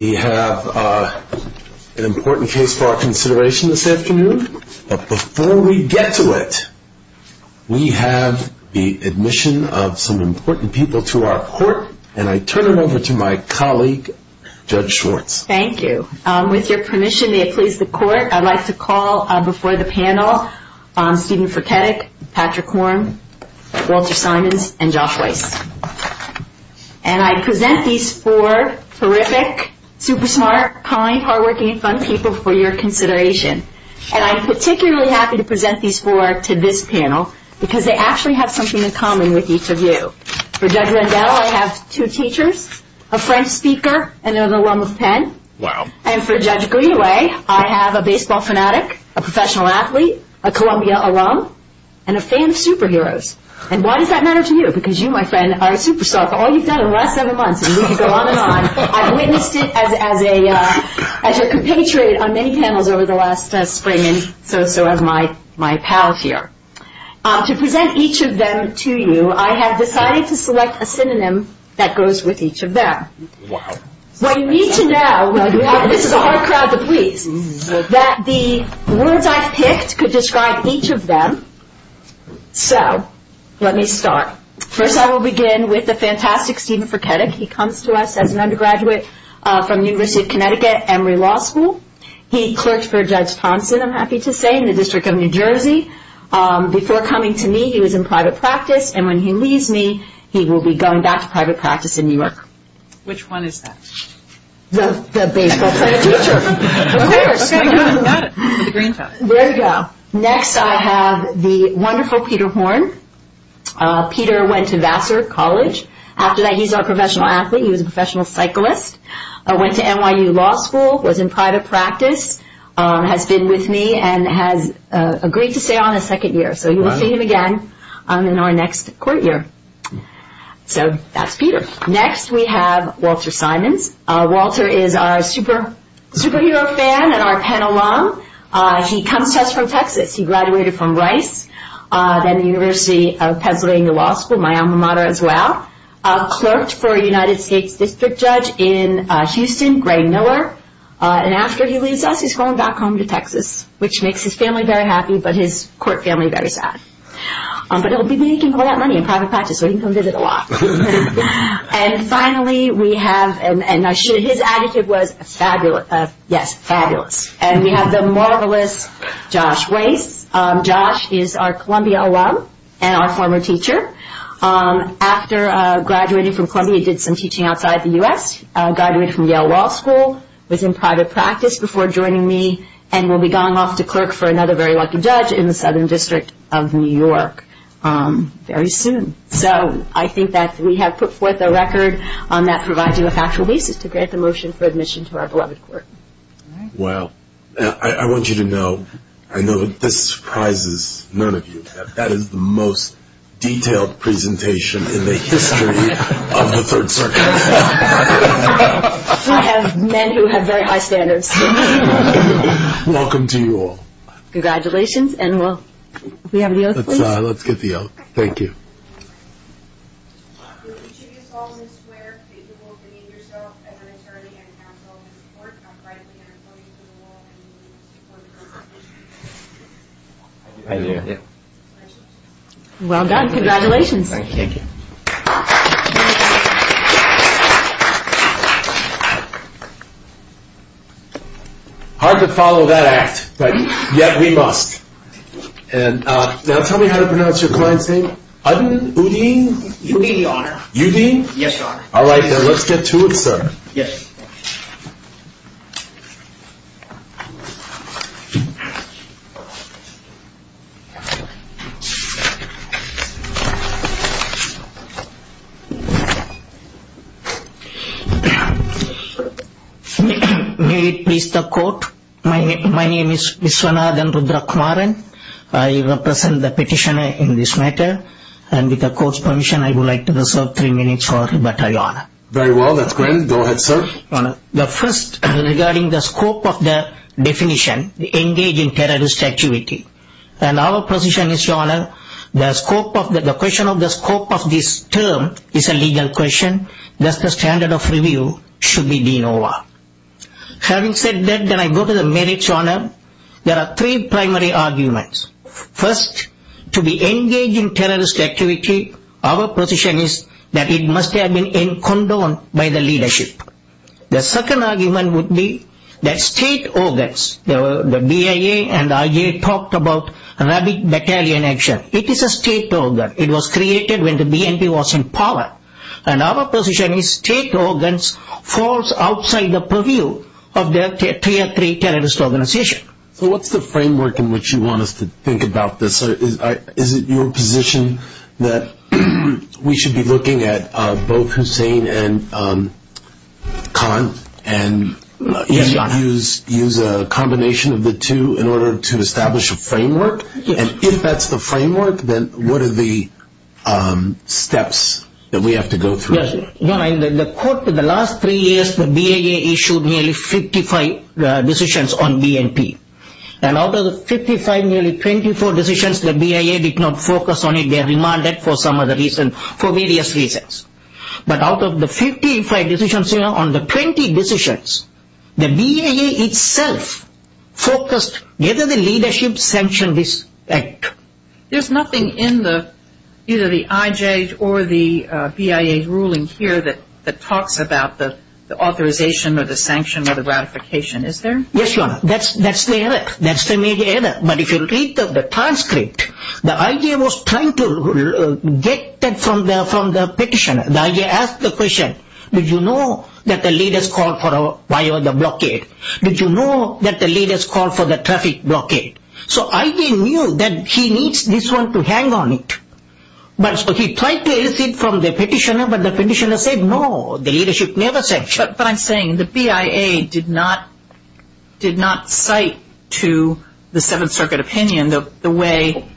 We have an important case for our consideration this afternoon, but before we get to it, we have the admission of some important people to our court, and I turn it over to my colleague, Judge Schwartz. Thank you. With your permission, may it please the court, I'd like to call before the panel, Stephen Fruchetic, Patrick Horn, Walter Simons, and Josh Weiss. And I present these four terrific, super smart, kind, hardworking, and fun people for your consideration. And I'm particularly happy to present these four to this panel, because they actually have something in common with each of you. For Judge Rendell, I have two teachers, a French speaker, and an alum of Penn. And for Judge Greenaway, I have a baseball fanatic, a professional athlete, a Columbia alum, and a fan of superheroes. And why does that matter to you? Because you, my friend, are a superstar. All you've done in the last seven months, and you can go on and on, I've witnessed it as your compatriot on many panels over the last spring, and so have my pals here. To present each of them to you, I have decided to select a synonym that goes with each of them. What you need to know, this is a hard crowd to please, that the words I've picked could describe each of them. So, let me start. First I will begin with the fantastic Stephen Fruchetic. He comes to us as an undergraduate from the University of Connecticut, Emory Law School. He clerked for Judge Thompson, I'm happy to say, in the District of New Jersey. Before coming to me, he was in private practice, and when he leaves me, he will be going back to private practice in New York. Which one is that? The baseball player teacher. Okay, got it. There you go. Next, I have the wonderful Peter Horn. Peter went to Vassar College. After that, he's not a professional athlete, he was a professional cyclist. Went to NYU Law School, was in private practice, has been with me, and has agreed to stay on a second year. So, you will see him again in our next court year. So, that's Peter. Next, we have Walter Simons. Walter is our superhero fan and our Penn alum. He comes to us from Texas. He graduated from Rice, then the University of Pennsylvania Law School, my alma mater as well. Clerked for a United States District Judge in Houston, Gray Miller. And after he leaves us, he's going back home to Texas, which makes his family very happy, but his court family very sad. But he'll be making a lot of money in private practice, so he can come visit a lot. And finally, we have, and his attitude was fabulous, yes, fabulous. And we have the marvelous Josh Weiss. Josh is our Columbia alum and our former teacher. After graduating from Columbia, he did some teaching outside the U.S. Graduated from Yale Law School, was in private practice before joining me, and will be going off to clerk for another very lucky judge in the Southern District of New York very soon. So, I think that we have put forth a record that provides you a factual basis to grant the motion for admission to our beloved court. Wow. I want you to know, I know this surprises none of you, but that is the most detailed presentation in the history of the Third Circuit. I have men who have very high standards. Welcome to you all. Congratulations, and will we have the oath, please? Let's get the oath. Thank you. Will each of you solemnly swear that you will demean yourself as an attorney and counsel in this court, uprightly and according to the law, and that you will support the court's decision? I do. Well done. Congratulations. Thank you. Hard to follow that act, but yet we must. Now tell me how to pronounce your client's name. Adil Uddin. Uddin, Your Honor. Uddin? Yes, Your Honor. All right, let's get to it, sir. Yes. May it please the court, my name is Vishwanathan Rudrakumaran. I represent the petitioner in this matter, and with the court's permission, I would like to reserve three minutes for rebuttal, Your Honor. Very well, that's granted. Go ahead, sir. Your Honor, the first regarding the scope of the definition, engage in terrorist activity, and our position is, Your Honor, the scope of the question of the scope of this term is a legal question, thus the standard of review should be de novo. Having said that, then I go to the merits, Your Honor. Your Honor, there are three primary arguments. First, to be engaged in terrorist activity, our position is that it must have been condoned by the leadership. The second argument would be that state organs, the BIA and the IAEA talked about rapid battalion action. It is a state organ. It was created when the BNP was in power, and our position is state organs falls outside the purview of their tier three terrorist organization. So what's the framework in which you want us to think about this? Is it your position that we should be looking at both Hussein and Khan, and use a combination of the two in order to establish a framework? And if that's the framework, then what are the steps that we have to go through? Your Honor, in the last three years, the BIA issued nearly 55 decisions on BNP. And out of the 55, nearly 24 decisions, the BIA did not focus on it. They are remanded for some other reason, for various reasons. But out of the 55 decisions, on the 20 decisions, the BIA itself focused whether the leadership sanctioned this act. There's nothing in either the IJ or the BIA ruling here that talks about the authorization or the sanction or the ratification. Is there? Yes, Your Honor. That's the error. That's the major error. But if you read the transcript, the IJ was trying to get that from the petitioner. The IJ asked the question, did you know that the leaders called for the blockade? Did you know that the leaders called for the traffic blockade? So IJ knew that he needs this one to hang on it. But he tried to erase it from the petitioner, but the petitioner said no. The leadership never sanctioned. But I'm saying the BIA did not cite to the Seventh Circuit opinion the way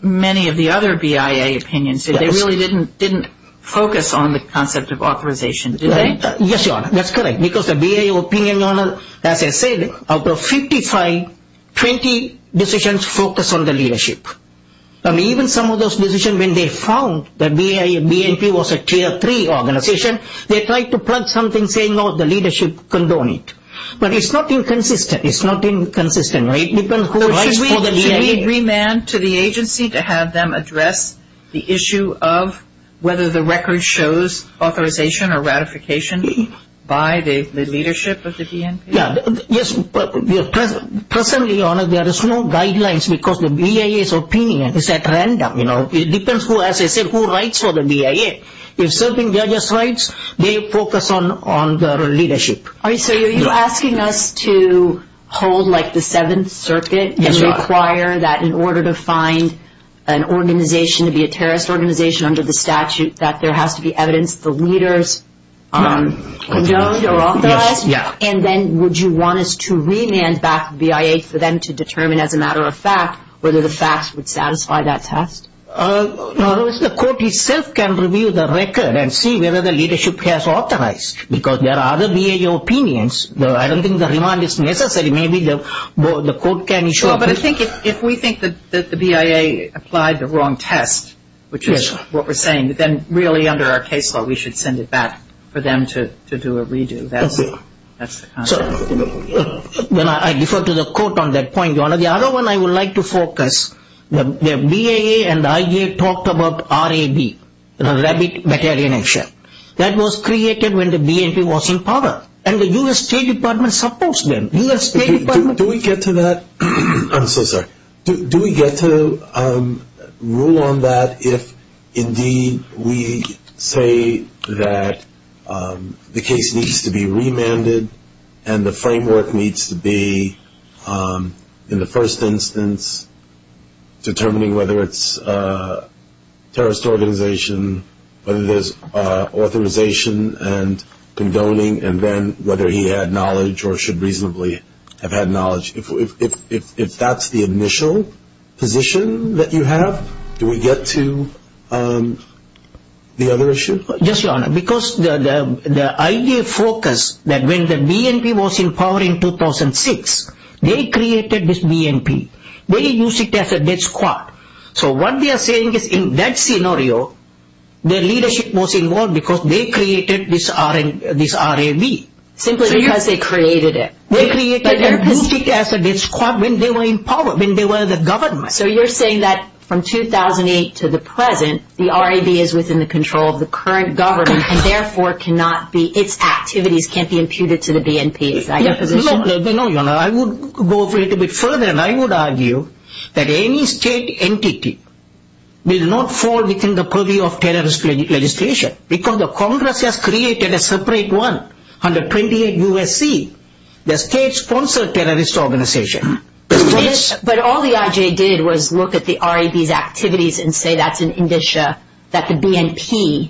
many of the other BIA opinions did. They really didn't focus on the concept of authorization, did they? Yes, Your Honor. That's correct. Because the BIA opinion, Your Honor, as I said, out of 55, 20 decisions focused on the leadership. Even some of those decisions, when they found that BNP was a Tier 3 organization, they tried to plug something saying, oh, the leadership condoned it. But it's not inconsistent. It's not inconsistent. Should we remand to the agency to have them address the issue of whether the record shows authorization or ratification by the leadership of the BNP? Yes. Presently, Your Honor, there is no guidelines because the BIA's opinion is at random. It depends, as I said, who writes for the BIA. If certain judges write, they focus on the leadership. So are you asking us to hold like the Seventh Circuit and require that in order to find an organization to be a terrorist organization under the statute that there has to be evidence the leaders condoned or authorized? Yes. And then would you want us to remand back to BIA for them to determine as a matter of fact whether the facts would satisfy that test? No, the court itself can review the record and see whether the leadership has authorized because there are other BIA opinions. I don't think the remand is necessary. Maybe the court can issue a brief. Sure, but I think if we think that the BIA applied the wrong test, which is what we're saying, then really under our case law we should send it back for them to do a redo. That's the concept. I defer to the court on that point, Your Honor. The other one I would like to focus, the BIA and the IA talked about RAB, the Rabbit Battalion Action. That was created when the BNP was in power and the U.S. State Department supports them. Do we get to that? I'm so sorry. Do we get to rule on that if indeed we say that the case needs to be remanded and the framework needs to be in the first instance determining whether it's a terrorist organization, whether there's authorization and condoning, and then whether he had knowledge or should reasonably have had knowledge? If that's the initial position that you have, do we get to the other issue? Yes, Your Honor, because the IA focused that when the BNP was in power in 2006, they created this BNP. They used it as a death squad. So what they are saying is in that scenario, their leadership was involved because they created this RAB. Simply because they created it. They created it as a death squad when they were in power, when they were the government. So you're saying that from 2008 to the present, the RAB is within the control of the current government and therefore cannot be, its activities can't be imputed to the BNP. No, Your Honor, I would go a little bit further and I would argue that any state entity will not fall within the purview of terrorist legislation because the Congress has created a separate one under 28 U.S.C., the state-sponsored terrorist organization. But all the IJ did was look at the RAB's activities and say that's an indicia that the BNP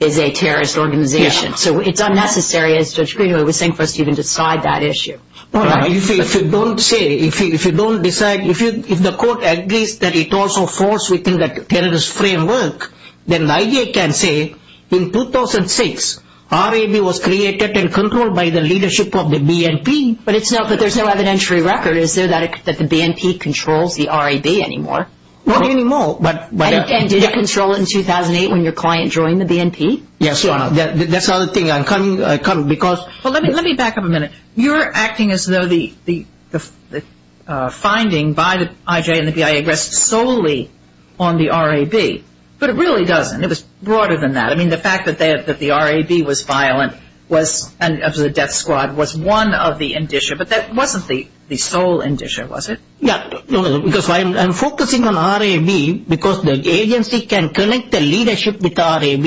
is a terrorist organization. So it's unnecessary, as Judge Greenwood was saying, for us to even decide that issue. Your Honor, if you don't say, if you don't decide, if the court agrees that it also falls within the terrorist framework, then the IJ can say in 2006, RAB was created and controlled by the leadership of the BNP. But there's no evidentiary record, is there, that the BNP controls the RAB anymore? Not anymore. And did it control it in 2008 when your client joined the BNP? Yes, Your Honor, that's another thing I'm coming because Well, let me back up a minute. You're acting as though the finding by the IJ and the BIA rests solely on the RAB. But it really doesn't. It was broader than that. I mean, the fact that the RAB was violent and of the death squad was one of the indicia. But that wasn't the sole indicia, was it? Yeah, because I'm focusing on RAB because the agency can connect the leadership with RAB.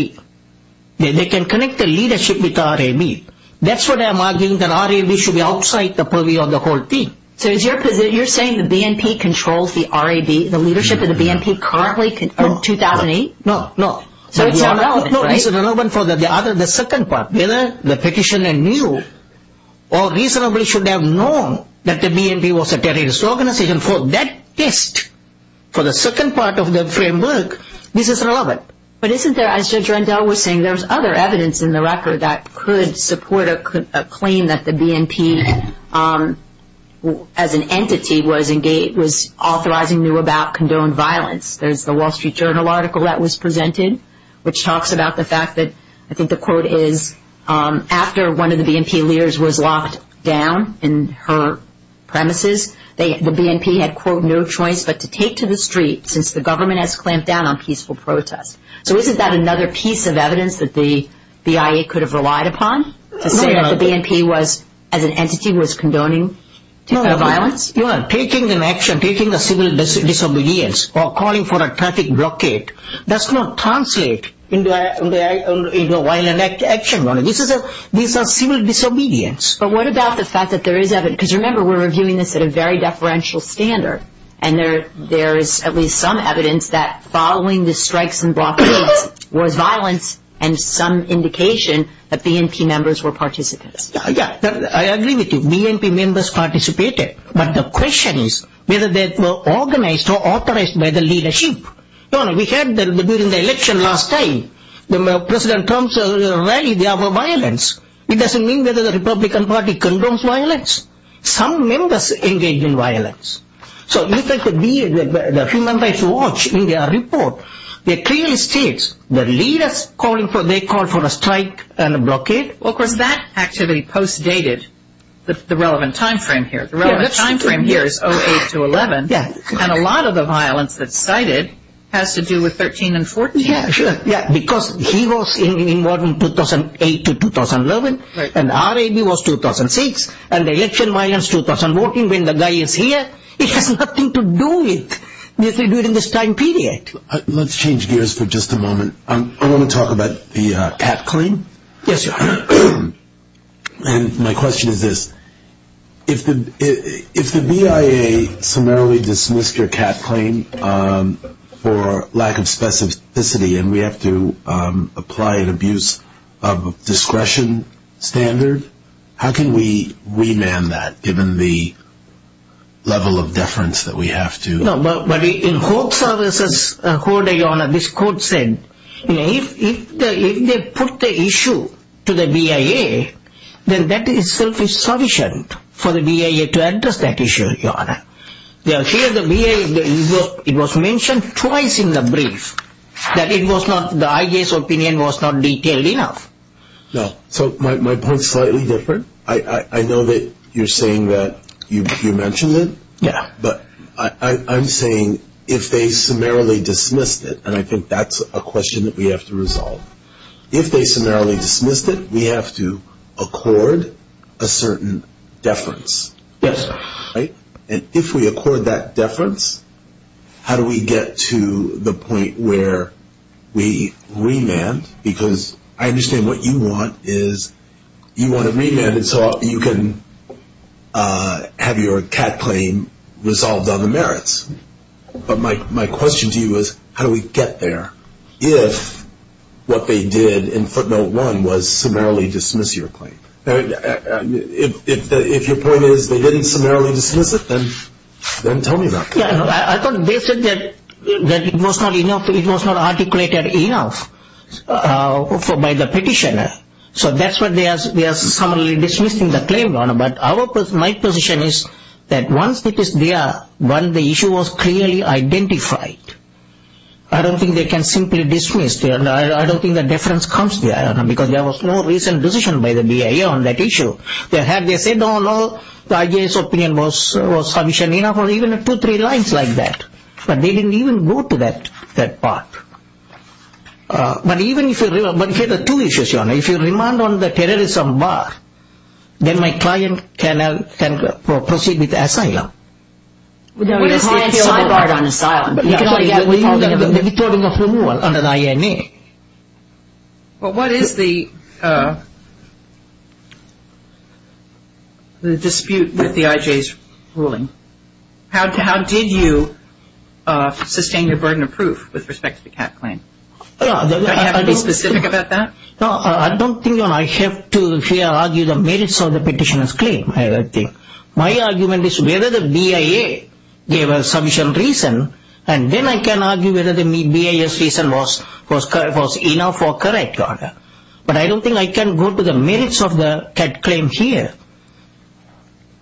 They can connect the leadership with RAB. That's what I'm arguing, that RAB should be outside the purview of the whole thing. So you're saying the BNP controls the RAB, the leadership of the BNP currently in 2008? No, no. So it's not relevant, right? No, it's not relevant for the second part. Whether the petitioner knew or reasonably should have known that the BNP was a terrorist organization, for that test, for the second part of the framework, this is relevant. But isn't there, as Judge Rendell was saying, there's other evidence in the record that could support a claim that the BNP, as an entity, was authorizing new about condoned violence. There's the Wall Street Journal article that was presented, which talks about the fact that, I think the quote is, after one of the BNP leaders was locked down in her premises, the BNP had, quote, no choice but to take to the street since the government has clamped down on peaceful protest. So isn't that another piece of evidence that the BIA could have relied upon, to say that the BNP was, as an entity, was condoning violence? No, no. Taking an action, taking a civil disobedience or calling for a traffic blockade, does not translate into a violent action. This is a civil disobedience. But what about the fact that there is evidence, because remember we're reviewing this at a very deferential standard, and there is at least some evidence that following the strikes and blockades was violence and some indication that BNP members were participants. Yeah, I agree with you. BNP members participated. But the question is whether they were organized or authorized by the leadership. No, no. We had that during the election last time. The President Trump's rally, there were violence. It doesn't mean that the Republican Party condones violence. Some members engaged in violence. So you think that the Human Rights Watch in their report, it clearly states that leaders calling for, they called for a strike and a blockade. Well, of course, that activity post-dated the relevant time frame here. The relevant time frame here is 08 to 11. Yeah. And a lot of the violence that's cited has to do with 13 and 14. Yeah, sure. Yeah, because he was involved in 2008 to 2011, and RAB was 2006, and the election violence 2000 voting when the guy is here, it has nothing to do with this time period. Let's change gears for just a moment. Yes, your Honor. My question is this. If the BIA summarily dismissed your CAT claim for lack of specificity and we have to apply an abuse of discretion standard, how can we remand that given the level of deference that we have to? No, but in court services, your Honor, this court said if they put the issue to the BIA, then that itself is sufficient for the BIA to address that issue, your Honor. Here the BIA, it was mentioned twice in the brief that it was not, the IJ's opinion was not detailed enough. No, so my point is slightly different. I know that you're saying that you mentioned it. Yeah. But I'm saying if they summarily dismissed it, and I think that's a question that we have to resolve. If they summarily dismissed it, we have to accord a certain deference. Yes, sir. And if we accord that deference, how do we get to the point where we remand? Because I understand what you want is you want to remand so that you can have your CAD claim resolved on the merits. But my question to you is how do we get there if what they did in footnote one was summarily dismiss your claim? If your point is they didn't summarily dismiss it, then tell me about that. I thought they said that it was not enough, it was not articulated enough by the petitioner. So that's why they are summarily dismissing the claim, Your Honor. But my position is that once it is there, when the issue was clearly identified, I don't think they can simply dismiss. I don't think the deference comes there, Your Honor, because there was no recent decision by the BIA on that issue. They said, oh, no, the IJ's opinion was sufficient enough, or even two, three lines like that. But they didn't even go to that part. But even if you remand on the terrorism bar, then my client can proceed with asylum. What is the asylum bar on asylum? The withholding of removal under the INA. Well, what is the dispute with the IJ's ruling? How did you sustain your burden of proof with respect to the CAT claim? Do you have to be specific about that? No, I don't think I have to argue the merits of the petitioner's claim. My argument is whether the BIA gave a sufficient reason, and then I can argue whether the BIA's reason was enough or correct, Your Honor. But I don't think I can go to the merits of the CAT claim here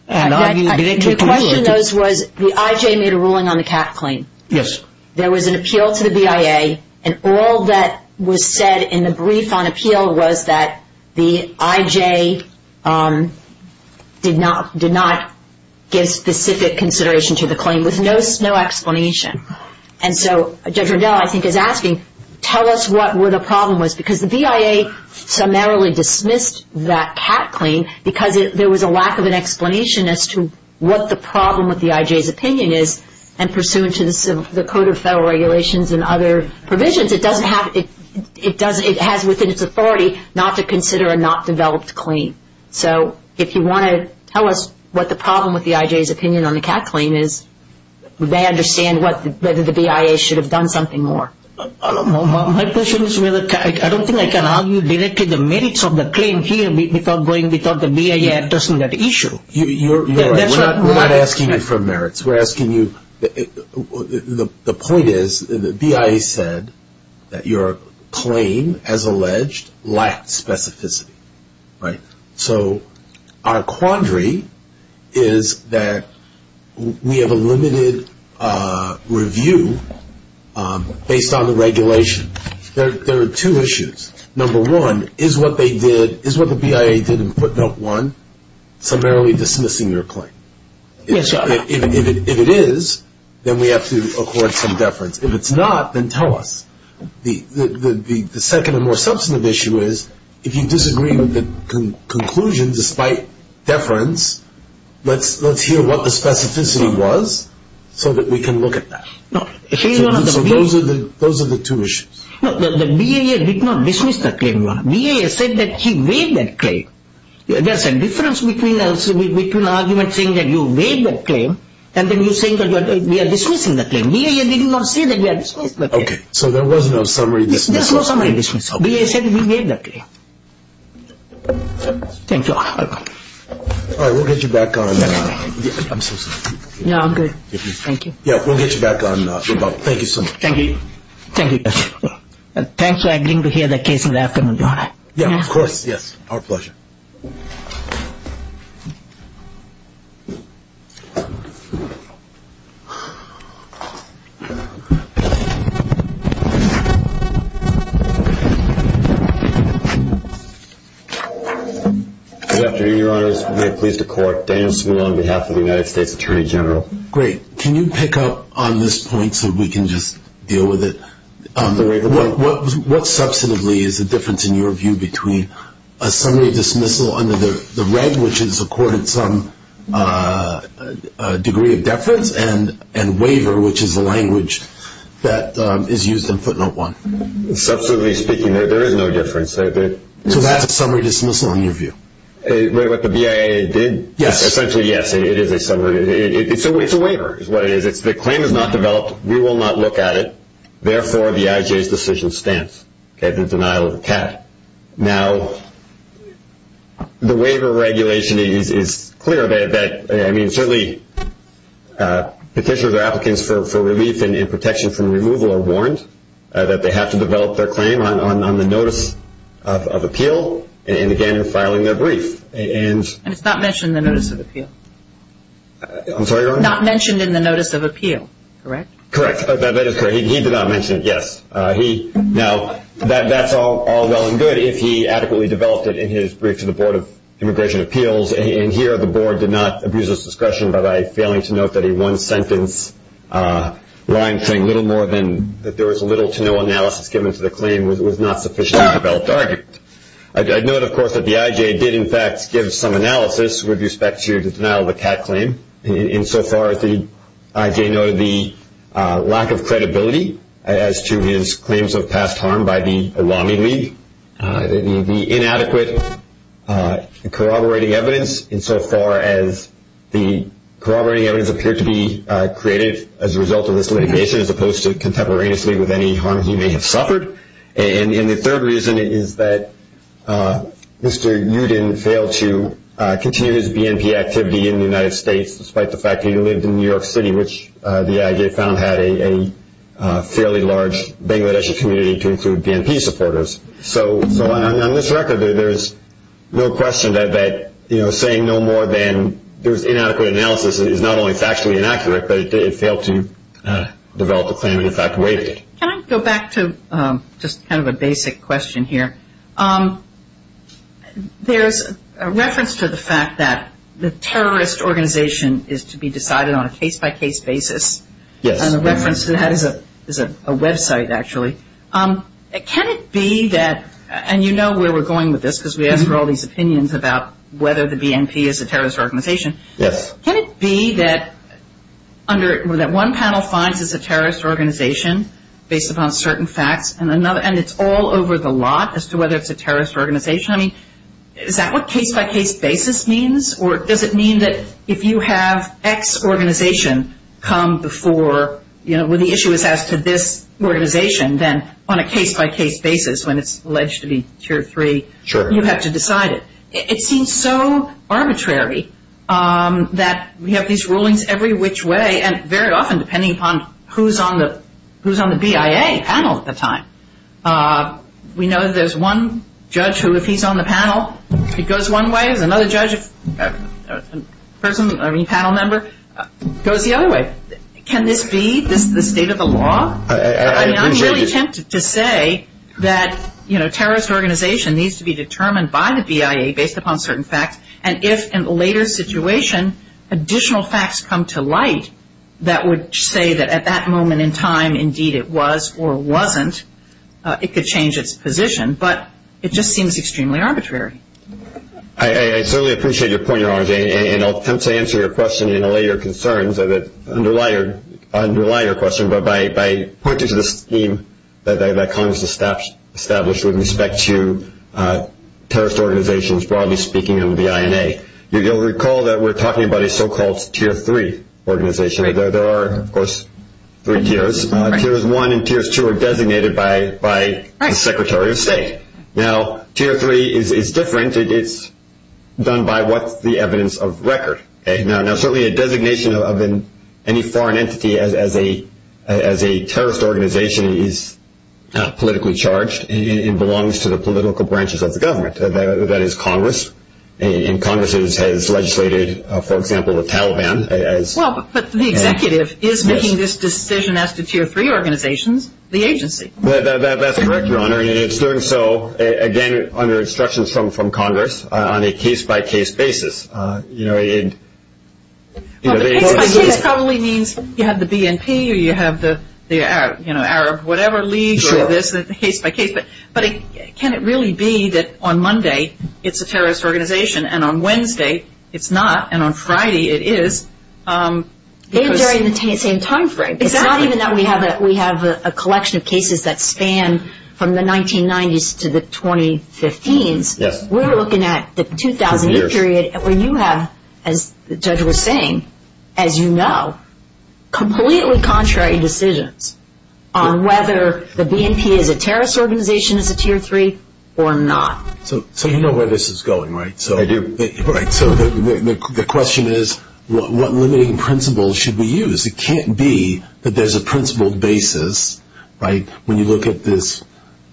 and argue directly. Your question was the IJ made a ruling on the CAT claim. Yes. There was an appeal to the BIA, and all that was said in the brief on appeal was that the IJ did not give specific consideration to the claim, with no explanation. And so Judge Rendell, I think, is asking, tell us what the problem was, because the BIA summarily dismissed that CAT claim because there was a lack of an explanation as to what the problem with the IJ's opinion is. And pursuant to the Code of Federal Regulations and other provisions, it has within its authority not to consider a not-developed claim. So if you want to tell us what the problem with the IJ's opinion on the CAT claim is, would they understand whether the BIA should have done something more? My question is really, I don't think I can argue directly the merits of the claim here without going, without the BIA addressing that issue. You're right. We're not asking you for merits. We're asking you, the point is the BIA said that your claim, as alleged, lacked specificity, right? So our quandary is that we have a limited review based on the regulation. There are two issues. Number one, is what they did, is what the BIA did in footnote one, summarily dismissing your claim? Yes, sir. If it is, then we have to accord some deference. If it's not, then tell us. The second and more substantive issue is, if you disagree with the conclusion despite deference, let's hear what the specificity was so that we can look at that. So those are the two issues. No, the BIA did not dismiss that claim. BIA said that he made that claim. There's a difference between an argument saying that you made that claim and then you saying that we are dismissing that claim. BIA did not say that we are dismissing that claim. Okay. So there was no summary dismissal? There's no summary dismissal. BIA said we made that claim. Thank you. All right. We'll get you back on. I'm so sorry. Yeah, I'm good. Thank you. Yeah, we'll get you back on. Thank you so much. Thank you. Thank you. Thanks for agreeing to hear the case in the afternoon. You all right? Yeah, of course. Yes. Our pleasure. Good afternoon, Your Honors. We are pleased to court. Daniel Smule on behalf of the United States Attorney General. Great. Can you pick up on this point so we can just deal with it? What substantively is the difference in your view between a summary dismissal under the red, which is accorded some degree of deference, and waiver, which is the language that is used in footnote one? Substantively speaking, there is no difference. So that's a summary dismissal in your view? What the BIA did? Yes. Essentially, yes. It is a summary. It's a waiver is what it is. The claim is not developed. We will not look at it. Therefore, the IJ's decision stands, the denial of the cat. Now, the waiver regulation is clear. I mean, certainly, petitioners or applicants for relief and protection from removal are warned that they have to develop their claim on the notice of appeal and, again, in filing their brief. And it's not mentioned in the notice of appeal? I'm sorry, Your Honor? Not mentioned in the notice of appeal, correct? Correct. That is correct. He did not mention it, yes. Now, that's all well and good if he adequately developed it in his brief to the Board of Immigration Appeals, and here the Board did not abuse its discretion by failing to note that a one-sentence line saying little more than that there was little to no analysis given to the claim was not sufficiently developed argument. I note, of course, that the IJ did, in fact, give some analysis with respect to the denial of the cat claim. In so far as the IJ noted the lack of credibility as to his claims of past harm by the Olami League, the inadequate corroborating evidence in so far as the corroborating evidence appeared to be created as a result of this litigation, as opposed to contemporaneously with any harm he may have suffered. And the third reason is that Mr. Uden failed to continue his BNP activity in the United States, despite the fact that he lived in New York City, which the IJ found had a fairly large Bangladeshi community to include BNP supporters. So on this record, there is no question that saying no more than there was inadequate analysis is not only factually inaccurate, but it failed to develop a claim and, in fact, waived it. Can I go back to just kind of a basic question here? There's a reference to the fact that the terrorist organization is to be decided on a case-by-case basis. Yes. And a reference to that is a website, actually. Can it be that – and you know where we're going with this because we ask for all these opinions about whether the BNP is a terrorist organization. Yes. Can it be that under – that one panel finds it's a terrorist organization based upon certain facts and it's all over the lot as to whether it's a terrorist organization? I mean, is that what case-by-case basis means? Or does it mean that if you have X organization come before, you know, where the issue is as to this organization, then on a case-by-case basis, when it's alleged to be tier three, you have to decide it? Sure. It seems so arbitrary that we have these rulings every which way, and very often depending upon who's on the BIA panel at the time. We know there's one judge who, if he's on the panel, he goes one way. There's another judge, a person, a panel member, goes the other way. Can this be the state of the law? I mean, I'm really tempted to say that, you know, terrorist organization needs to be determined by the BIA based upon certain facts, and if in the later situation additional facts come to light that would say that at that moment in time, indeed it was or wasn't, it could change its position. But it just seems extremely arbitrary. I certainly appreciate your point, Your Honor, and I'll attempt to answer your question and allay your concerns and underline your question, but by pointing to the scheme that Congress established with respect to terrorist organizations, broadly speaking, and the INA. You'll recall that we're talking about a so-called tier three organization. There are, of course, three tiers. Tiers one and tiers two are designated by the Secretary of State. Now tier three is different. It's done by what's the evidence of record. Now certainly a designation of any foreign entity as a terrorist organization is politically charged and belongs to the political branches of the government. That is Congress, and Congress has legislated, for example, the Taliban. Well, but the executive is making this decision as to tier three organizations, the agency. That's correct, Your Honor, and it's doing so, again, under instructions from Congress on a case-by-case basis. Well, the case-by-case probably means you have the BNP or you have the Arab whatever league or this case-by-case, but can it really be that on Monday it's a terrorist organization and on Wednesday it's not and on Friday it is? Maybe during the same time frame. It's not even that we have a collection of cases that span from the 1990s to the 2015s. We're looking at the 2008 period where you have, as the judge was saying, as you know, completely contrary decisions on whether the BNP is a terrorist organization as a tier three or not. So you know where this is going, right? I do. All right. So the question is, what limiting principles should we use? It can't be that there's a principled basis, right, when you look at this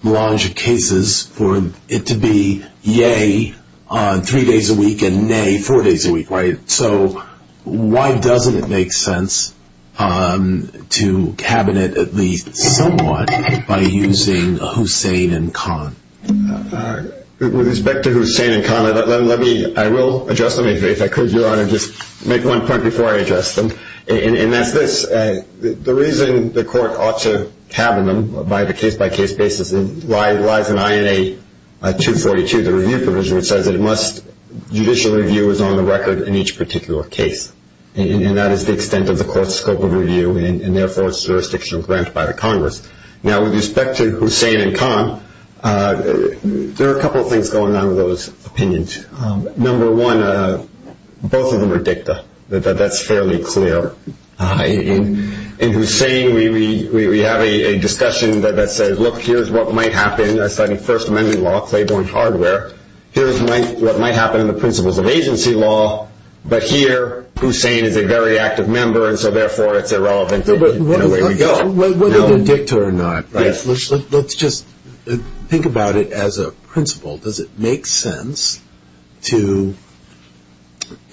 large cases, for it to be yay on three days a week and nay four days a week, right? So why doesn't it make sense to cabinet at least somewhat by using Hussein and Khan? With respect to Hussein and Khan, I will address them if I could, Your Honor. Just make one point before I address them, and that's this. The reason the court ought to cabinet them by the case-by-case basis lies in INA 242, the review provision, which says judicial review is on the record in each particular case, and that is the extent of the court's scope of review and, therefore, jurisdictional grant by the Congress. Now, with respect to Hussein and Khan, there are a couple of things going on with those opinions. Number one, both of them are dicta. That's fairly clear. In Hussein, we have a discussion that says, look, here's what might happen. I studied First Amendment law, Claiborne hardware. Here's what might happen in the principles of agency law, but here Hussein is a very active member, and so, therefore, it's irrelevant in the way we go. Whether they're dicta or not, let's just think about it as a principle. Does it make sense to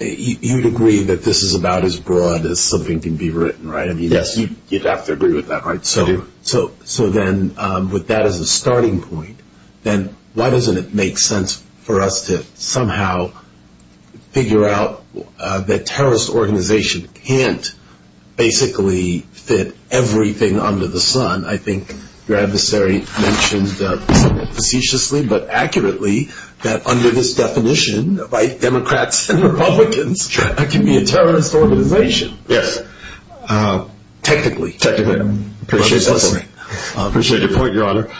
you'd agree that this is about as broad as something can be written, right? Yes, you'd have to agree with that. I do. So then with that as a starting point, then why doesn't it make sense for us to somehow figure out that a terrorist organization can't basically fit everything under the sun? I think your adversary mentioned facetiously but accurately that under this definition, white Democrats and Republicans can be a terrorist organization. Yes. Technically. Technically. I appreciate your point, Your Honor.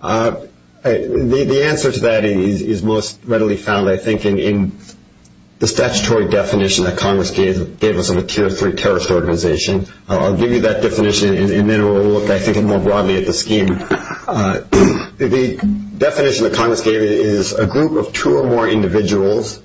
The answer to that is most readily found, I think, in the statutory definition that Congress gave us of a tier three terrorist organization. I'll give you that definition, and then we'll look, I think, more broadly at the scheme. The definition that Congress gave is a group of two or more individuals,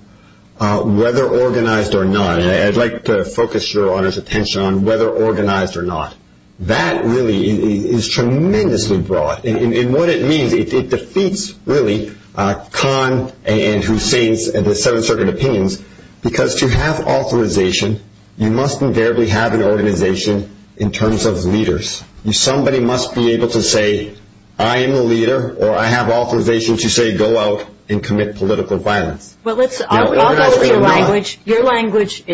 whether organized or not, and I'd like to focus Your Honor's attention on whether organized or not. That really is tremendously broad. And what it means, it defeats, really, Kahn and Hussein's Seven-Circuit Opinions, because to have authorization, you must invariably have an organization in terms of leaders. Somebody must be able to say, I am the leader, or I have authorization to say, go out and commit political violence. Well, I'll go with your language.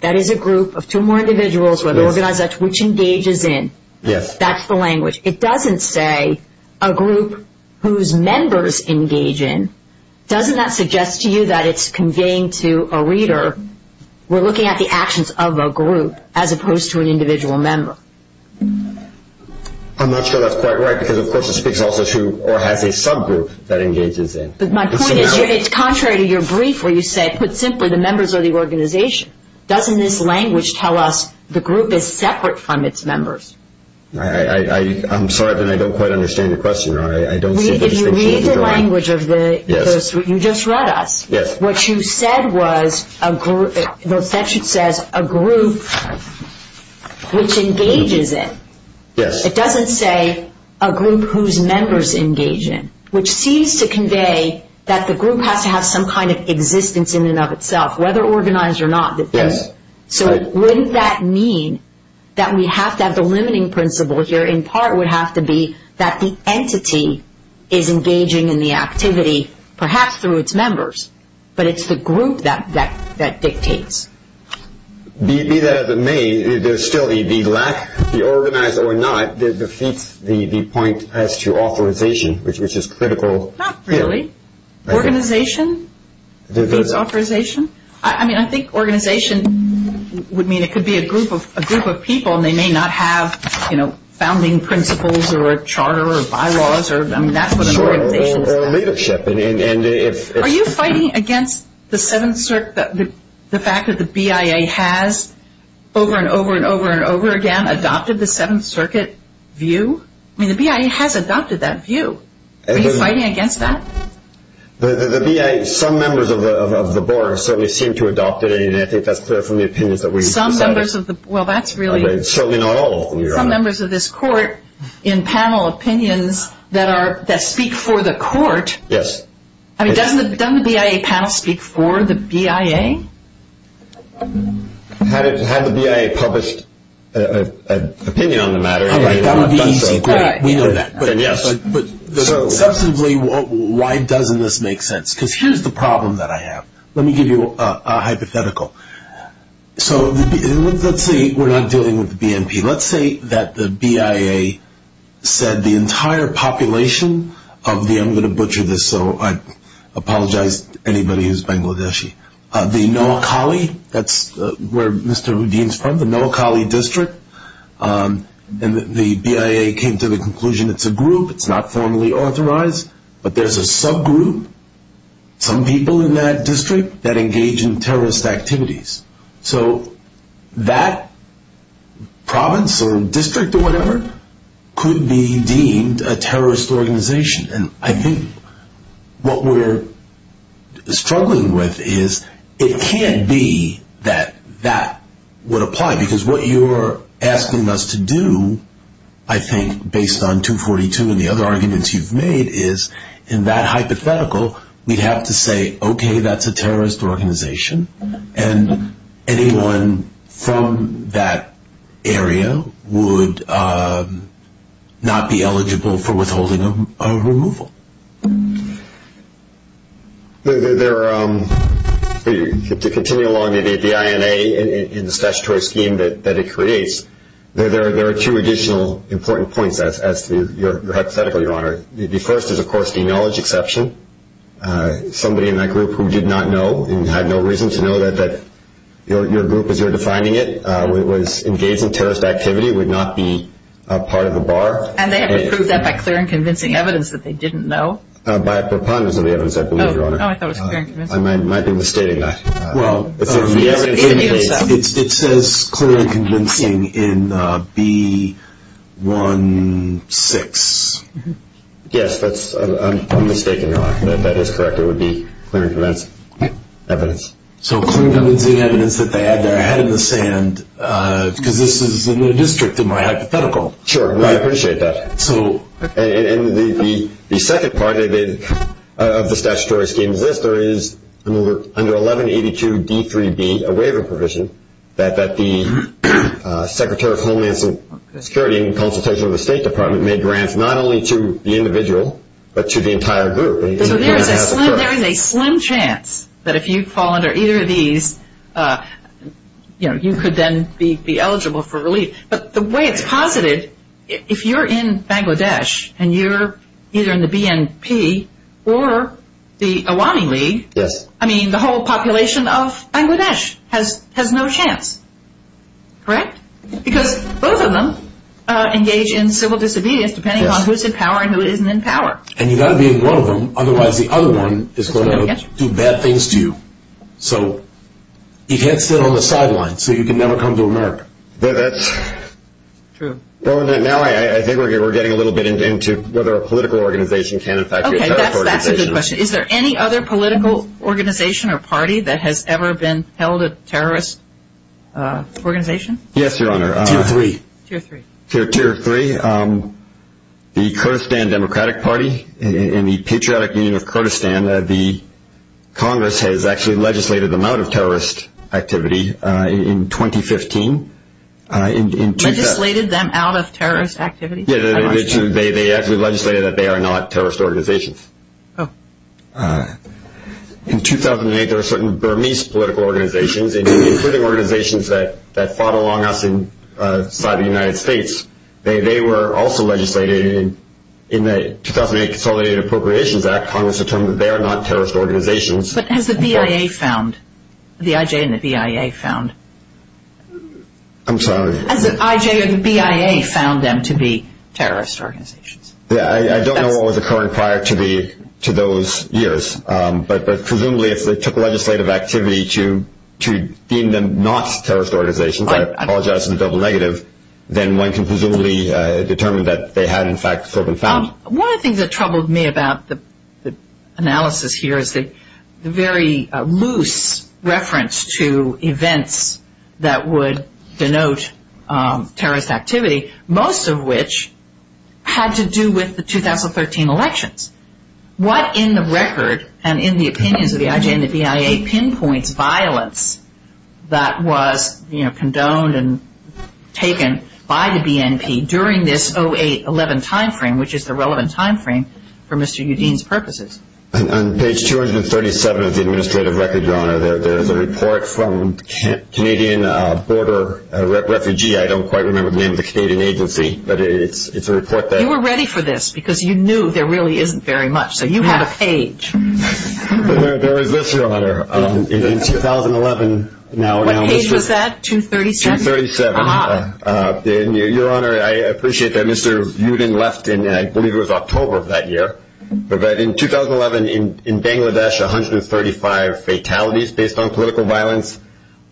That is a group of two or more individuals, whether organized or not, which engages in. Yes. That's the language. It doesn't say a group whose members engage in. Doesn't that suggest to you that it's conveying to a reader, we're looking at the actions of a group as opposed to an individual member? I'm not sure that's quite right because, of course, it speaks also to or has a subgroup that engages in. But my point is, it's contrary to your brief where you said, put simply, the members are the organization. Doesn't this language tell us the group is separate from its members? I'm sorry, but I don't quite understand your question, Your Honor. I don't see the distinction. Read the language of those three. You just read us. Yes. What you said was, the section says, a group which engages in. Yes. It doesn't say a group whose members engage in, which seems to convey that the group has to have some kind of existence in and of itself, whether organized or not. Yes. So wouldn't that mean that we have to have the limiting principle here, in part would have to be that the entity is engaging in the activity, perhaps through its members, but it's the group that dictates. Be that as it may, there's still the lack, the organized or not, that defeats the point as to authorization, which is critical here. Not really. Organization defeats authorization. I mean, I think organization would mean it could be a group of people, and they may not have founding principles or a charter or bylaws. I mean, that's what an organization is about. Or leadership. Are you fighting against the Seventh Circuit, the fact that the BIA has over and over and over and over again adopted the Seventh Circuit view? I mean, the BIA has adopted that view. Are you fighting against that? The BIA, some members of the board certainly seem to adopt it, and I think that's clear from the opinions that we've decided. Some members of the, well, that's really. Certainly not all of them. Some members of this court in panel opinions that speak for the court. Yes. I mean, doesn't the BIA panel speak for the BIA? Had the BIA published an opinion on the matter. That would be easy. We know that. But, yes. Substantively, why doesn't this make sense? Because here's the problem that I have. Let me give you a hypothetical. So let's say we're not dealing with the BNP. Let's say that the BIA said the entire population of the, I'm going to butcher this, so I apologize to anybody who's Bangladeshi, the Noakali, that's where Mr. Houdin is from, the Noakali District, and the BIA came to the conclusion it's a group, it's not formally authorized, but there's a subgroup, some people in that district, that engage in terrorist activities. So that province or district or whatever could be deemed a terrorist organization. And I think what we're struggling with is it can't be that that would apply. Because what you're asking us to do, I think, based on 242 and the other arguments you've made, is in that hypothetical we'd have to say, okay, that's a terrorist organization. And anyone from that area would not be eligible for withholding a removal. To continue along the INA in the statutory scheme that it creates, there are two additional important points as to your hypothetical, Your Honor. The first is, of course, the knowledge exception. Somebody in that group who did not know and had no reason to know that your group, as you're defining it, was engaged in terrorist activity would not be part of the bar. And they have to prove that by clear and convincing evidence that they didn't know. By a preponderance of the evidence, I believe, Your Honor. Oh, I thought it was clear and convincing. I might be mistaking that. Well, it says clear and convincing in B-1-6. Yes, I'm mistaken, Your Honor. That is correct. It would be clear and convincing evidence. So clear and convincing evidence that they had their head in the sand, because this is in the district in my hypothetical. Sure. I appreciate that. And the second part of the statutory scheme is this. There is under 1182 D-3-B, a waiver provision, that the Secretary of Homeland Security in consultation with the State Department may grant not only to the individual but to the entire group. So there is a slim chance that if you fall under either of these, you know, you could then be eligible for relief. But the way it's posited, if you're in Bangladesh and you're either in the BNP or the Awani League, I mean, the whole population of Bangladesh has no chance, correct? Because both of them engage in civil disobedience depending on who's in power and who isn't in power. And you've got to be in one of them, otherwise the other one is going to do bad things to you. So you can't sit on the sidelines, so you can never come to America. That's true. Well, now I think we're getting a little bit into whether a political organization can in fact be a terrorist organization. Okay, that's a good question. Is there any other political organization or party that has ever been held a terrorist organization? Yes, Your Honor. Tier 3. Tier 3. The Kurdistan Democratic Party in the Patriotic Union of Kurdistan, the Congress has actually legislated them out of terrorist activity in 2015. Legislated them out of terrorist activity? They actually legislated that they are not terrorist organizations. In 2008, there were certain Burmese political organizations, including organizations that fought along us inside the United States. They were also legislated in the 2008 Consolidated Appropriations Act. Congress determined that they are not terrorist organizations. But has the BIA found, the IJ and the BIA found? I'm sorry? Has the IJ or the BIA found them to be terrorist organizations? I don't know what was occurring prior to those years, but presumably if they took legislative activity to deem them not terrorist organizations, I apologize for the double negative, then one can presumably determine that they had in fact sort of been found. One of the things that troubled me about the analysis here is the very loose reference to events that would denote terrorist activity, most of which had to do with the 2013 elections. What in the record and in the opinions of the IJ and the BIA pinpoints violence that was condoned and taken by the BNP during this 08-11 timeframe, which is the relevant timeframe for Mr. Yudin's purposes? On page 237 of the administrative record, Your Honor, there is a report from Canadian Border Refugee, I don't quite remember the name of the Canadian agency, but it's a report that You were ready for this because you knew there really isn't very much, so you had a page. There was this, Your Honor, in 2011. What page was that, 237? 237. Your Honor, I appreciate that Mr. Yudin left in, I believe it was October of that year, but in 2011 in Bangladesh, 135 fatalities based on political violence,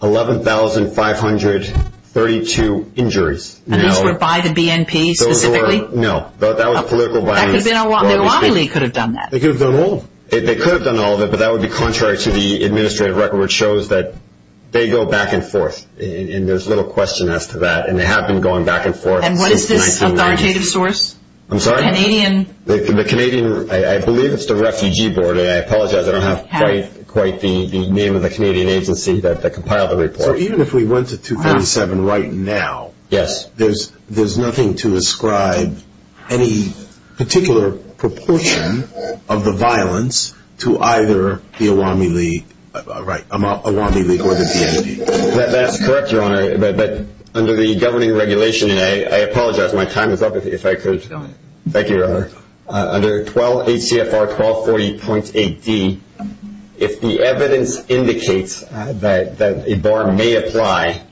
11,532 injuries. And these were by the BNP specifically? No, that was political violence. The OILE could have done that. They could have done all of it, but that would be contrary to the administrative record, which shows that they go back and forth, and there's little question as to that, and they have been going back and forth since 1980. And what is this authoritative source? I'm sorry? The Canadian, I believe it's the Refugee Board, and I apologize, I don't have quite the name of the Canadian agency that compiled the report. So even if we went to 237 right now, there's nothing to ascribe any particular proportion of the violence to either the Awami League or the BNP? That's correct, Your Honor, but under the governing regulation, and I apologize, my time is up if I could. Thank you, Your Honor. Under 12 ACFR 1240.8D, if the evidence indicates that a bar may apply,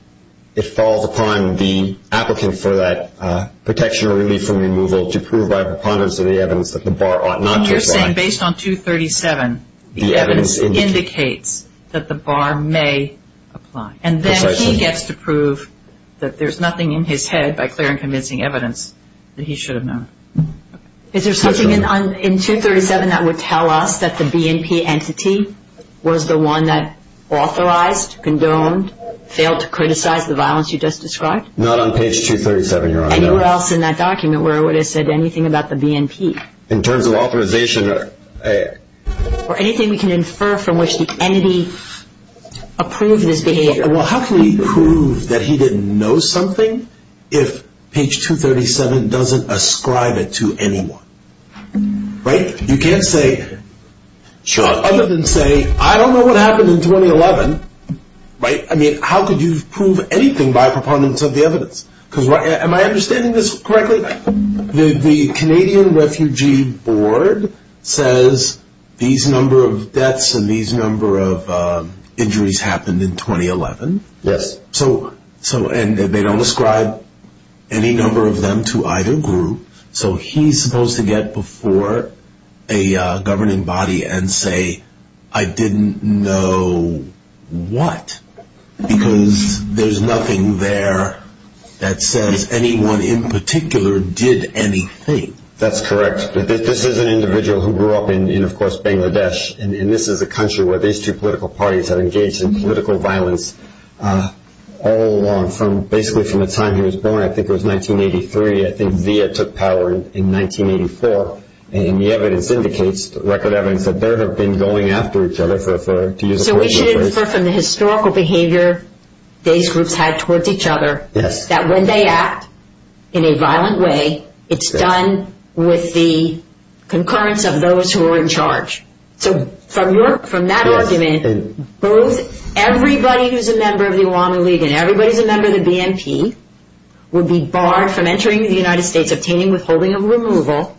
it falls upon the applicant for that protection or relief from removal to prove by preponderance of the evidence that the bar ought not to apply. You're saying based on 237, the evidence indicates that the bar may apply, and then he gets to prove that there's nothing in his head, by clear and convincing evidence, that he should have known. Is there something in 237 that would tell us that the BNP entity was the one that authorized, condoned, failed to criticize the violence you just described? Not on page 237, Your Honor. Anywhere else in that document where it would have said anything about the BNP? In terms of authorization. Or anything we can infer from which the entity approved this behavior? Well, how can we prove that he didn't know something if page 237 doesn't ascribe it to anyone? Right? You can't say, other than say, I don't know what happened in 2011, right? I mean, how could you prove anything by preponderance of the evidence? Am I understanding this correctly? The Canadian Refugee Board says these number of deaths and these number of injuries happened in 2011. Yes. And they don't ascribe any number of them to either group, so he's supposed to get before a governing body and say, I didn't know what, because there's nothing there that says anyone in particular did anything. That's correct. This is an individual who grew up in, of course, Bangladesh, and this is a country where these two political parties have engaged in political violence all along, basically from the time he was born. I think it was 1983. I think Zia took power in 1984, and the evidence indicates, the record evidence, that there have been going after each other. So we should infer from the historical behavior these groups had towards each other, that when they act in a violent way, it's done with the concurrence of those who are in charge. So from that argument, everybody who's a member of the Obama League and everybody who's a member of the BNP would be barred from entering the United States, obtaining withholding of removal,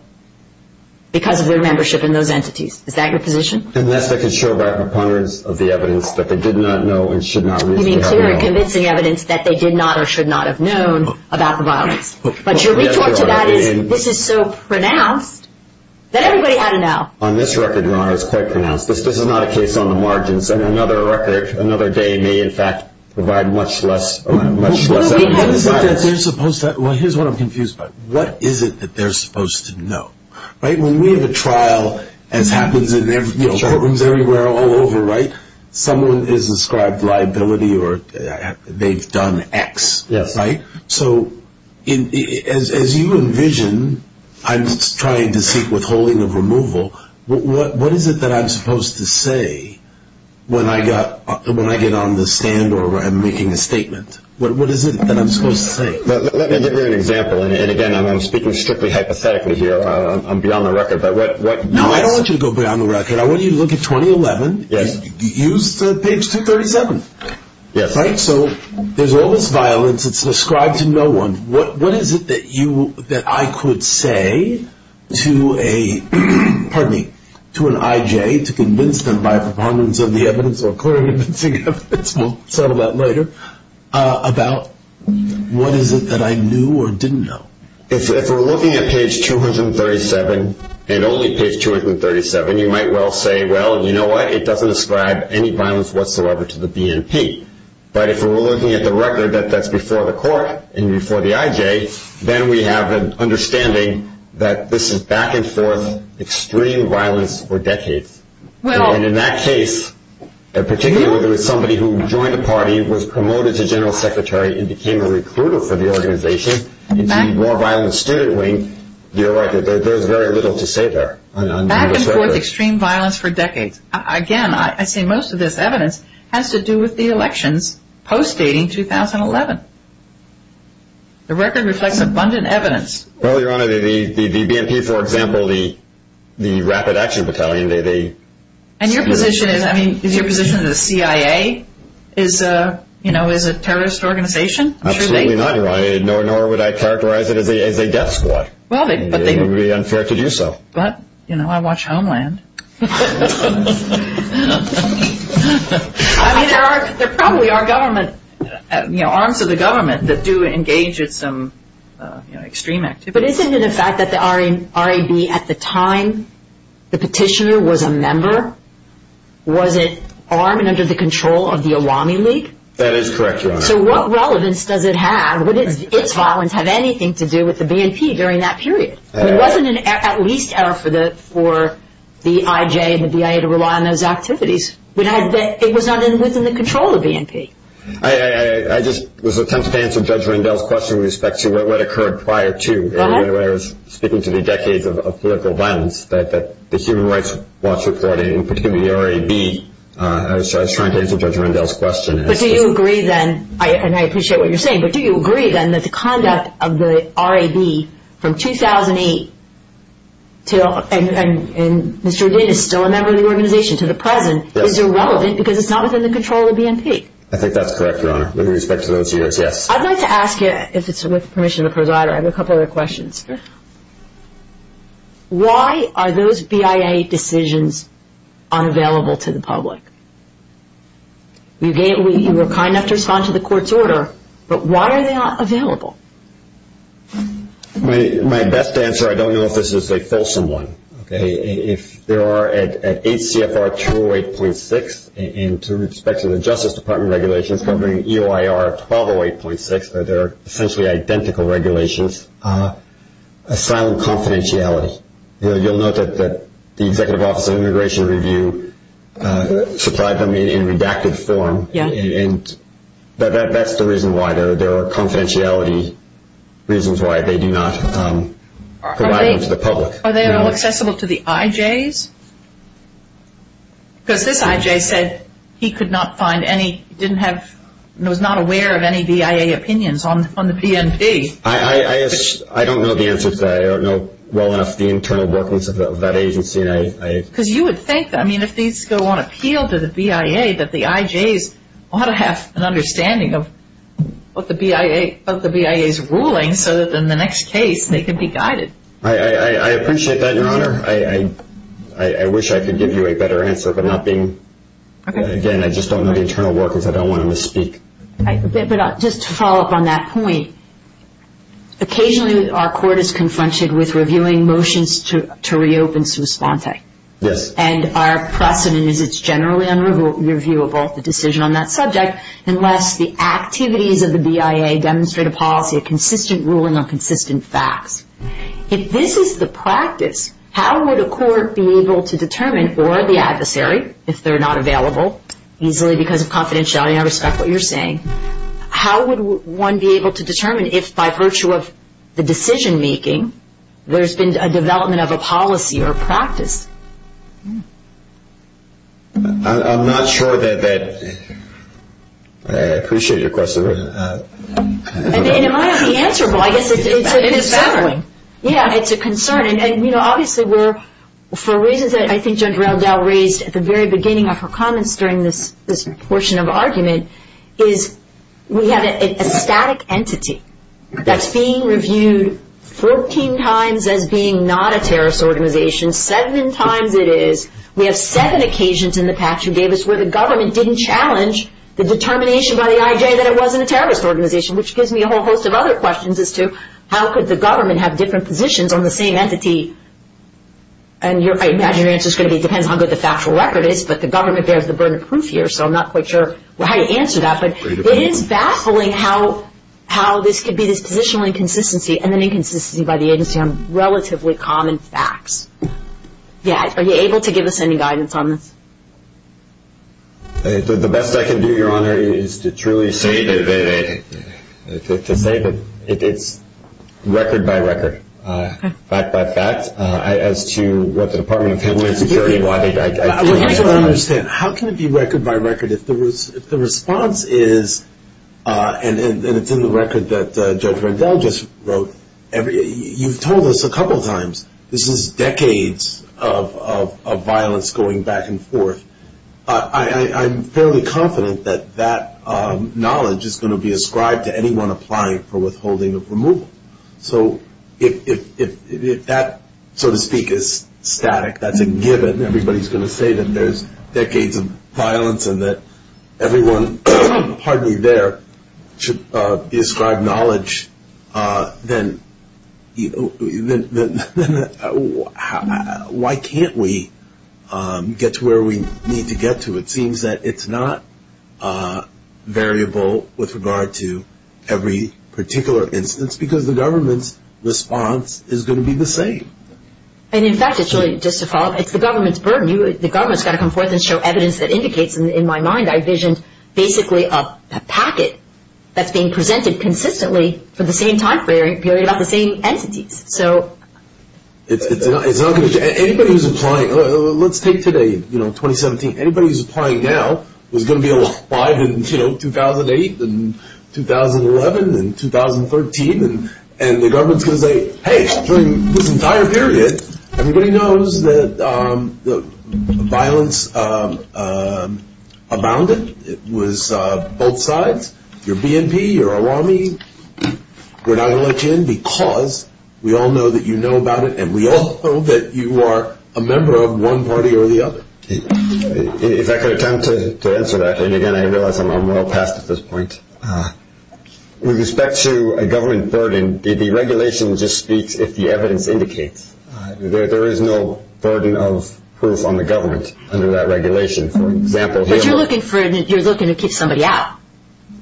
because of their membership in those entities. Is that your position? And that's the controversy of the evidence, that they did not know and should not have known. You mean clear and convincing evidence that they did not or should not have known about the violence. But your retort to that is, this is so pronounced that everybody had to know. On this record, no, it's quite pronounced. This is not a case on the margins, and another record, another day, may in fact provide much less evidence. What is it that they're supposed to, well, here's what I'm confused about. What is it that they're supposed to know? When we have a trial, as happens in courtrooms everywhere all over, someone is ascribed liability or they've done X. So as you envision, I'm trying to seek withholding of removal. What is it that I'm supposed to say when I get on the stand or I'm making a statement? What is it that I'm supposed to say? Let me give you an example. And again, I'm speaking strictly hypothetically here. I'm beyond the record. No, I don't want you to go beyond the record. I want you to look at 2011. Use page 237. So there's all this violence. It's ascribed to no one. What is it that I could say to an I.J. to convince them by a preponderance of the evidence or clear and convincing evidence, we'll settle that later, about what is it that I knew or didn't know? If we're looking at page 237 and only page 237, you might well say, well, you know what, it doesn't ascribe any violence whatsoever to the BNP. But if we're looking at the record that that's before the court and before the I.J., then we have an understanding that this is back and forth extreme violence for decades. And in that case, particularly if it was somebody who joined a party, was promoted to general secretary and became a recruiter for the organization, the more violent student wing, you're right, there's very little to say there. Back and forth extreme violence for decades. Again, I say most of this evidence has to do with the elections post-dating 2011. The record reflects abundant evidence. Well, Your Honor, the BNP, for example, the rapid action battalion. And your position is, I mean, is your position that the CIA is a terrorist organization? Absolutely not, Your Honor, nor would I characterize it as a death squad. It would be unfair to do so. But, you know, I watch Homeland. I mean, there probably are government, you know, arms of the government that do engage in some, you know, extreme activities. But isn't it a fact that the RAB at the time the petitioner was a member, was it armed and under the control of the Awami League? That is correct, Your Honor. So what relevance does it have? Would its violence have anything to do with the BNP during that period? It wasn't at least error for the IJ and the BIA to rely on those activities. It was not within the control of the BNP. I just was attempting to answer Judge Rendell's question with respect to what occurred prior to. I was speaking to the decades of political violence that the Human Rights Watch reported, and particularly the RAB. So I was trying to answer Judge Rendell's question. But do you agree then, and I appreciate what you're saying, but do you agree then that the conduct of the RAB from 2008 and Mr. Odin is still a member of the organization to the present, is irrelevant because it's not within the control of the BNP? I think that's correct, Your Honor, with respect to those years, yes. I'd like to ask you, if it's with permission of the presider, I have a couple other questions. Why are those BIA decisions unavailable to the public? You were kind enough to respond to the court's order, but why are they not available? My best answer, I don't know if this is a fulsome one, if there are at ACFR 208.6 and to respect to the Justice Department regulations covering EOIR 1208.6, that they're essentially identical regulations, a silent confidentiality. You'll note that the Executive Office of Immigration Review supplied them in redacted form, and that's the reason why there are confidentiality reasons why they do not provide them to the public. Are they all accessible to the IJs? Because this IJ said he could not find any, was not aware of any BIA opinions on the BNP. I don't know the answer to that. I don't know well enough the internal workings of that agency. Because you would think that, I mean, if these go on appeal to the BIA, that the IJs ought to have an understanding of what the BIA is ruling, so that in the next case they can be guided. I appreciate that, Your Honor. I wish I could give you a better answer, but again, I just don't know the internal workings. I don't want to misspeak. But just to follow up on that point, occasionally our court is confronted with reviewing motions to reopen sua sponte. Yes. And our precedent is it's generally unreviewable, the decision on that subject, unless the activities of the BIA demonstrate a policy, a consistent ruling on consistent facts. If this is the practice, how would a court be able to determine, or the adversary, if they're not available easily because of confidentiality, I respect what you're saying, how would one be able to determine if by virtue of the decision-making there's been a development of a policy or a practice? I'm not sure that that – I appreciate your question. And it might not be answerable. I guess it's a concern. It's a concern. Yeah, it's a concern. And, you know, obviously we're – for reasons that I think Judge Reldell raised at the very beginning of her comments during this portion of argument is we have a static entity that's being reviewed 14 times as being not a terrorist organization, seven times it is. We have seven occasions in the past you gave us where the government didn't challenge the determination by the IJ that it wasn't a terrorist organization, which gives me a whole host of other questions as to how could the government have different positions on the same entity? And I imagine your answer is going to be it depends on how good the factual record is, but the government bears the burden of proof here, so I'm not quite sure how you answer that. But it is baffling how this could be this positional inconsistency and then inconsistency by the agency on relatively common facts. Yeah, are you able to give us any guidance on this? The best I can do, Your Honor, is to truly say that it's record by record, fact by fact, as to what the Department of Homeland Security – I don't understand. How can it be record by record if the response is – and it's in the record that Judge Reldell just wrote. You've told us a couple times this is decades of violence going back and forth. I'm fairly confident that that knowledge is going to be ascribed to anyone applying for withholding of removal. So if that, so to speak, is static, that's a given, everybody's going to say that there's decades of violence and that everyone, pardon me, there should be ascribed knowledge, then why can't we get to where we need to get to? It seems that it's not variable with regard to every particular instance because the government's response is going to be the same. And, in fact, it's really, just to follow up, it's the government's burden. The government's got to come forth and show evidence that indicates, in my mind, I envisioned basically a packet that's being presented consistently for the same time period about the same entities. It's not going to change. Anybody who's applying – let's take today, 2017. Anybody who's applying now is going to be applied in 2008 and 2011 and 2013. And the government's going to say, hey, during this entire period, everybody knows that violence abounded. It was both sides, your BNP, your Awami. We're not going to let you in because we all know that you know about it and we all know that you are a member of one party or the other. If I could attempt to answer that, and, again, I realize I'm well past at this point. With respect to a government burden, the regulation just speaks if the evidence indicates. There is no burden of proof on the government under that regulation. But you're looking for – you're looking to keep somebody out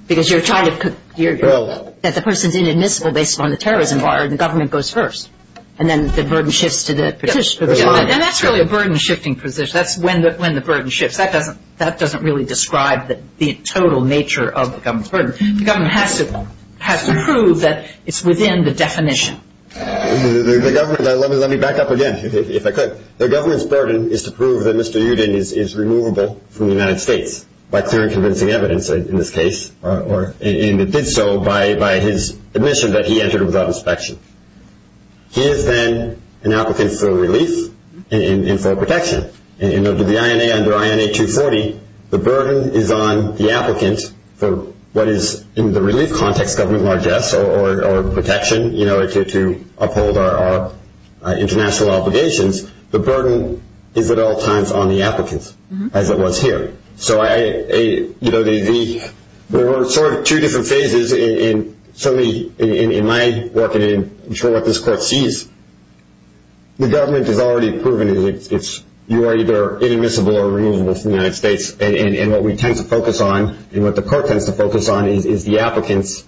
because you're trying to – that the person's inadmissible based on the terrorism bar and the government goes first and then the burden shifts to the petitioner. And that's really a burden-shifting position. That's when the burden shifts. That doesn't really describe the total nature of the government's burden. The government has to prove that it's within the definition. The government – let me back up again, if I could. The government's burden is to prove that Mr. Yudin is removable from the United States by clear and convincing evidence in this case, and it did so by his admission that he entered without inspection. He is then an applicant for relief and for protection. And the INA under INA 240, the burden is on the applicant for what is in the relief context, government largesse or protection to uphold our international obligations. The burden is at all times on the applicant, as it was here. So there were sort of two different phases in my work and I'm sure what this court sees. The government has already proven you are either inadmissible or removable from the United States. And what we tend to focus on and what the court tends to focus on is the applicant's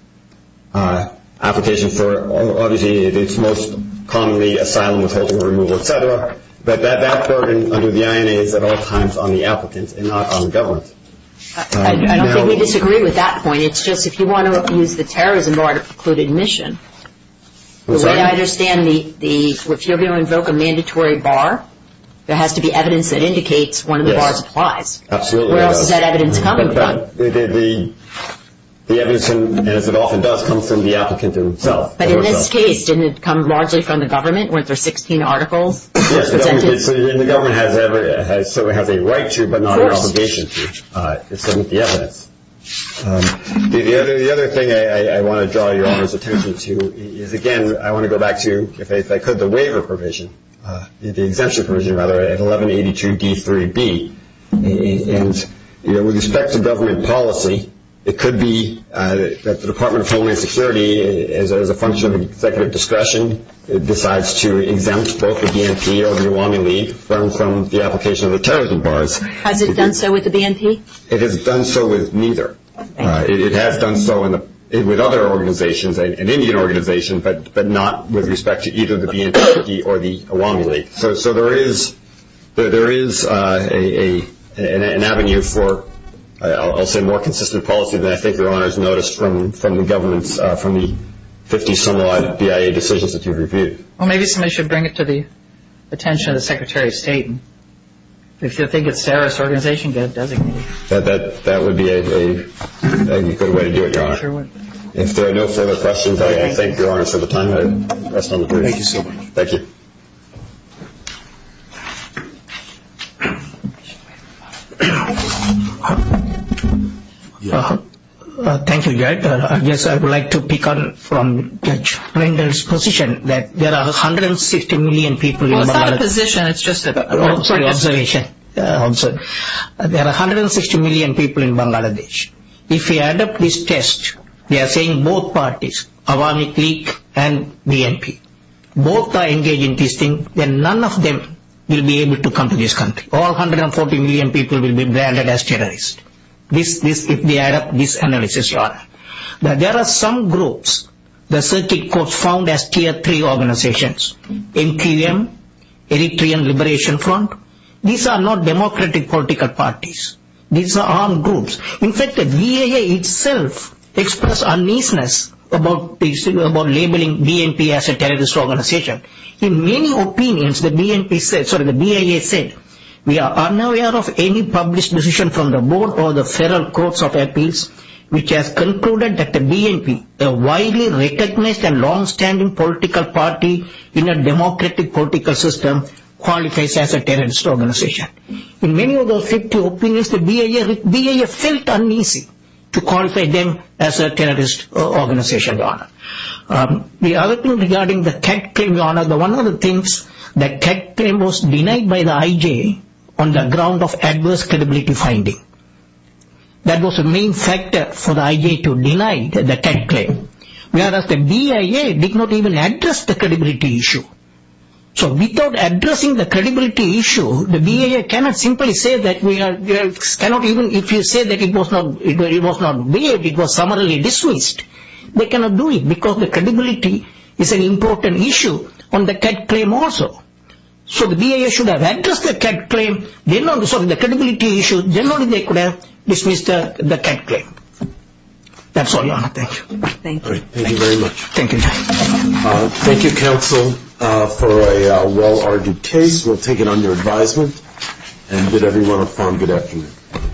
application for, obviously it's most commonly asylum withholding or removal, et cetera. But that burden under the INA is at all times on the applicant and not on the government. I don't think we disagree with that point. It's just if you want to use the terrorism bar to preclude admission, the way I understand the, if you're going to invoke a mandatory bar, there has to be evidence that indicates one of the bars applies. Absolutely. Where else is that evidence coming from? The evidence, as it often does, comes from the applicant himself. But in this case, didn't it come largely from the government? Weren't there 16 articles? Yes, and the government has a right to but not an obligation to, except with the evidence. The other thing I want to draw your attention to is, again, I want to go back to, if I could, the waiver provision, the exemption provision, rather, at 1182D3B, and with respect to government policy, it could be that the Department of Homeland Security, as a function of executive discretion, decides to exempt both the BNP or the Iwami League from the application of the terrorism bars. Has it done so with the BNP? It has done so with neither. It has done so with other organizations, an Indian organization, but not with respect to either the BNP or the Iwami League. So there is an avenue for, I'll say, more consistent policy than I think Your Honor has noticed from the governments, from the 50-some-odd BIA decisions that you've reviewed. Well, maybe somebody should bring it to the attention of the Secretary of State. If you think it's a terrorist organization, get it designated. That would be a good way to do it, Your Honor. If there are no further questions, I thank Your Honor for the time. Thank you so much. Thank you. Thank you, Your Honor. I guess I would like to pick up from Judge Rendell's position that there are 160 million people in Mar-a-Lago. It's not a position. It's just an observation. There are 160 million people in Bangladesh. If we adopt this test, we are saying both parties, Iwami League and BNP, both are engaged in this thing, then none of them will be able to come to this country. All 140 million people will be branded as terrorists. If we adopt this analysis, Your Honor, that there are some groups, the circuit courts found as Tier 3 organizations, MQM, Eritrean Liberation Front. These are not democratic political parties. These are armed groups. In fact, the BIA itself expressed uneasiness about labeling BNP as a terrorist organization. In many opinions, the BIA said, We are unaware of any published decision from the board or the federal courts of appeals, which has concluded that the BNP, a widely recognized and long-standing political party in a democratic political system, qualifies as a terrorist organization. In many of those 50 opinions, the BIA felt uneasy to qualify them as a terrorist organization, Your Honor. The other thing regarding the CAD claim, Your Honor, one of the things, the CAD claim was denied by the IJ on the ground of adverse credibility finding. That was the main factor for the IJ to deny the CAD claim, whereas the BIA did not even address the credibility issue. So, without addressing the credibility issue, the BIA cannot simply say that, if you say that it was not BIA, it was summarily dismissed. They cannot do it because the credibility is an important issue on the CAD claim also. So, the BIA should have addressed the CAD claim, then on the credibility issue, then only they could have dismissed the CAD claim. That's all, Your Honor. Thank you. Thank you. Thank you very much. Thank you. Thank you, counsel, for a well-argued case. We'll take it under advisement and bid everyone a fond good afternoon.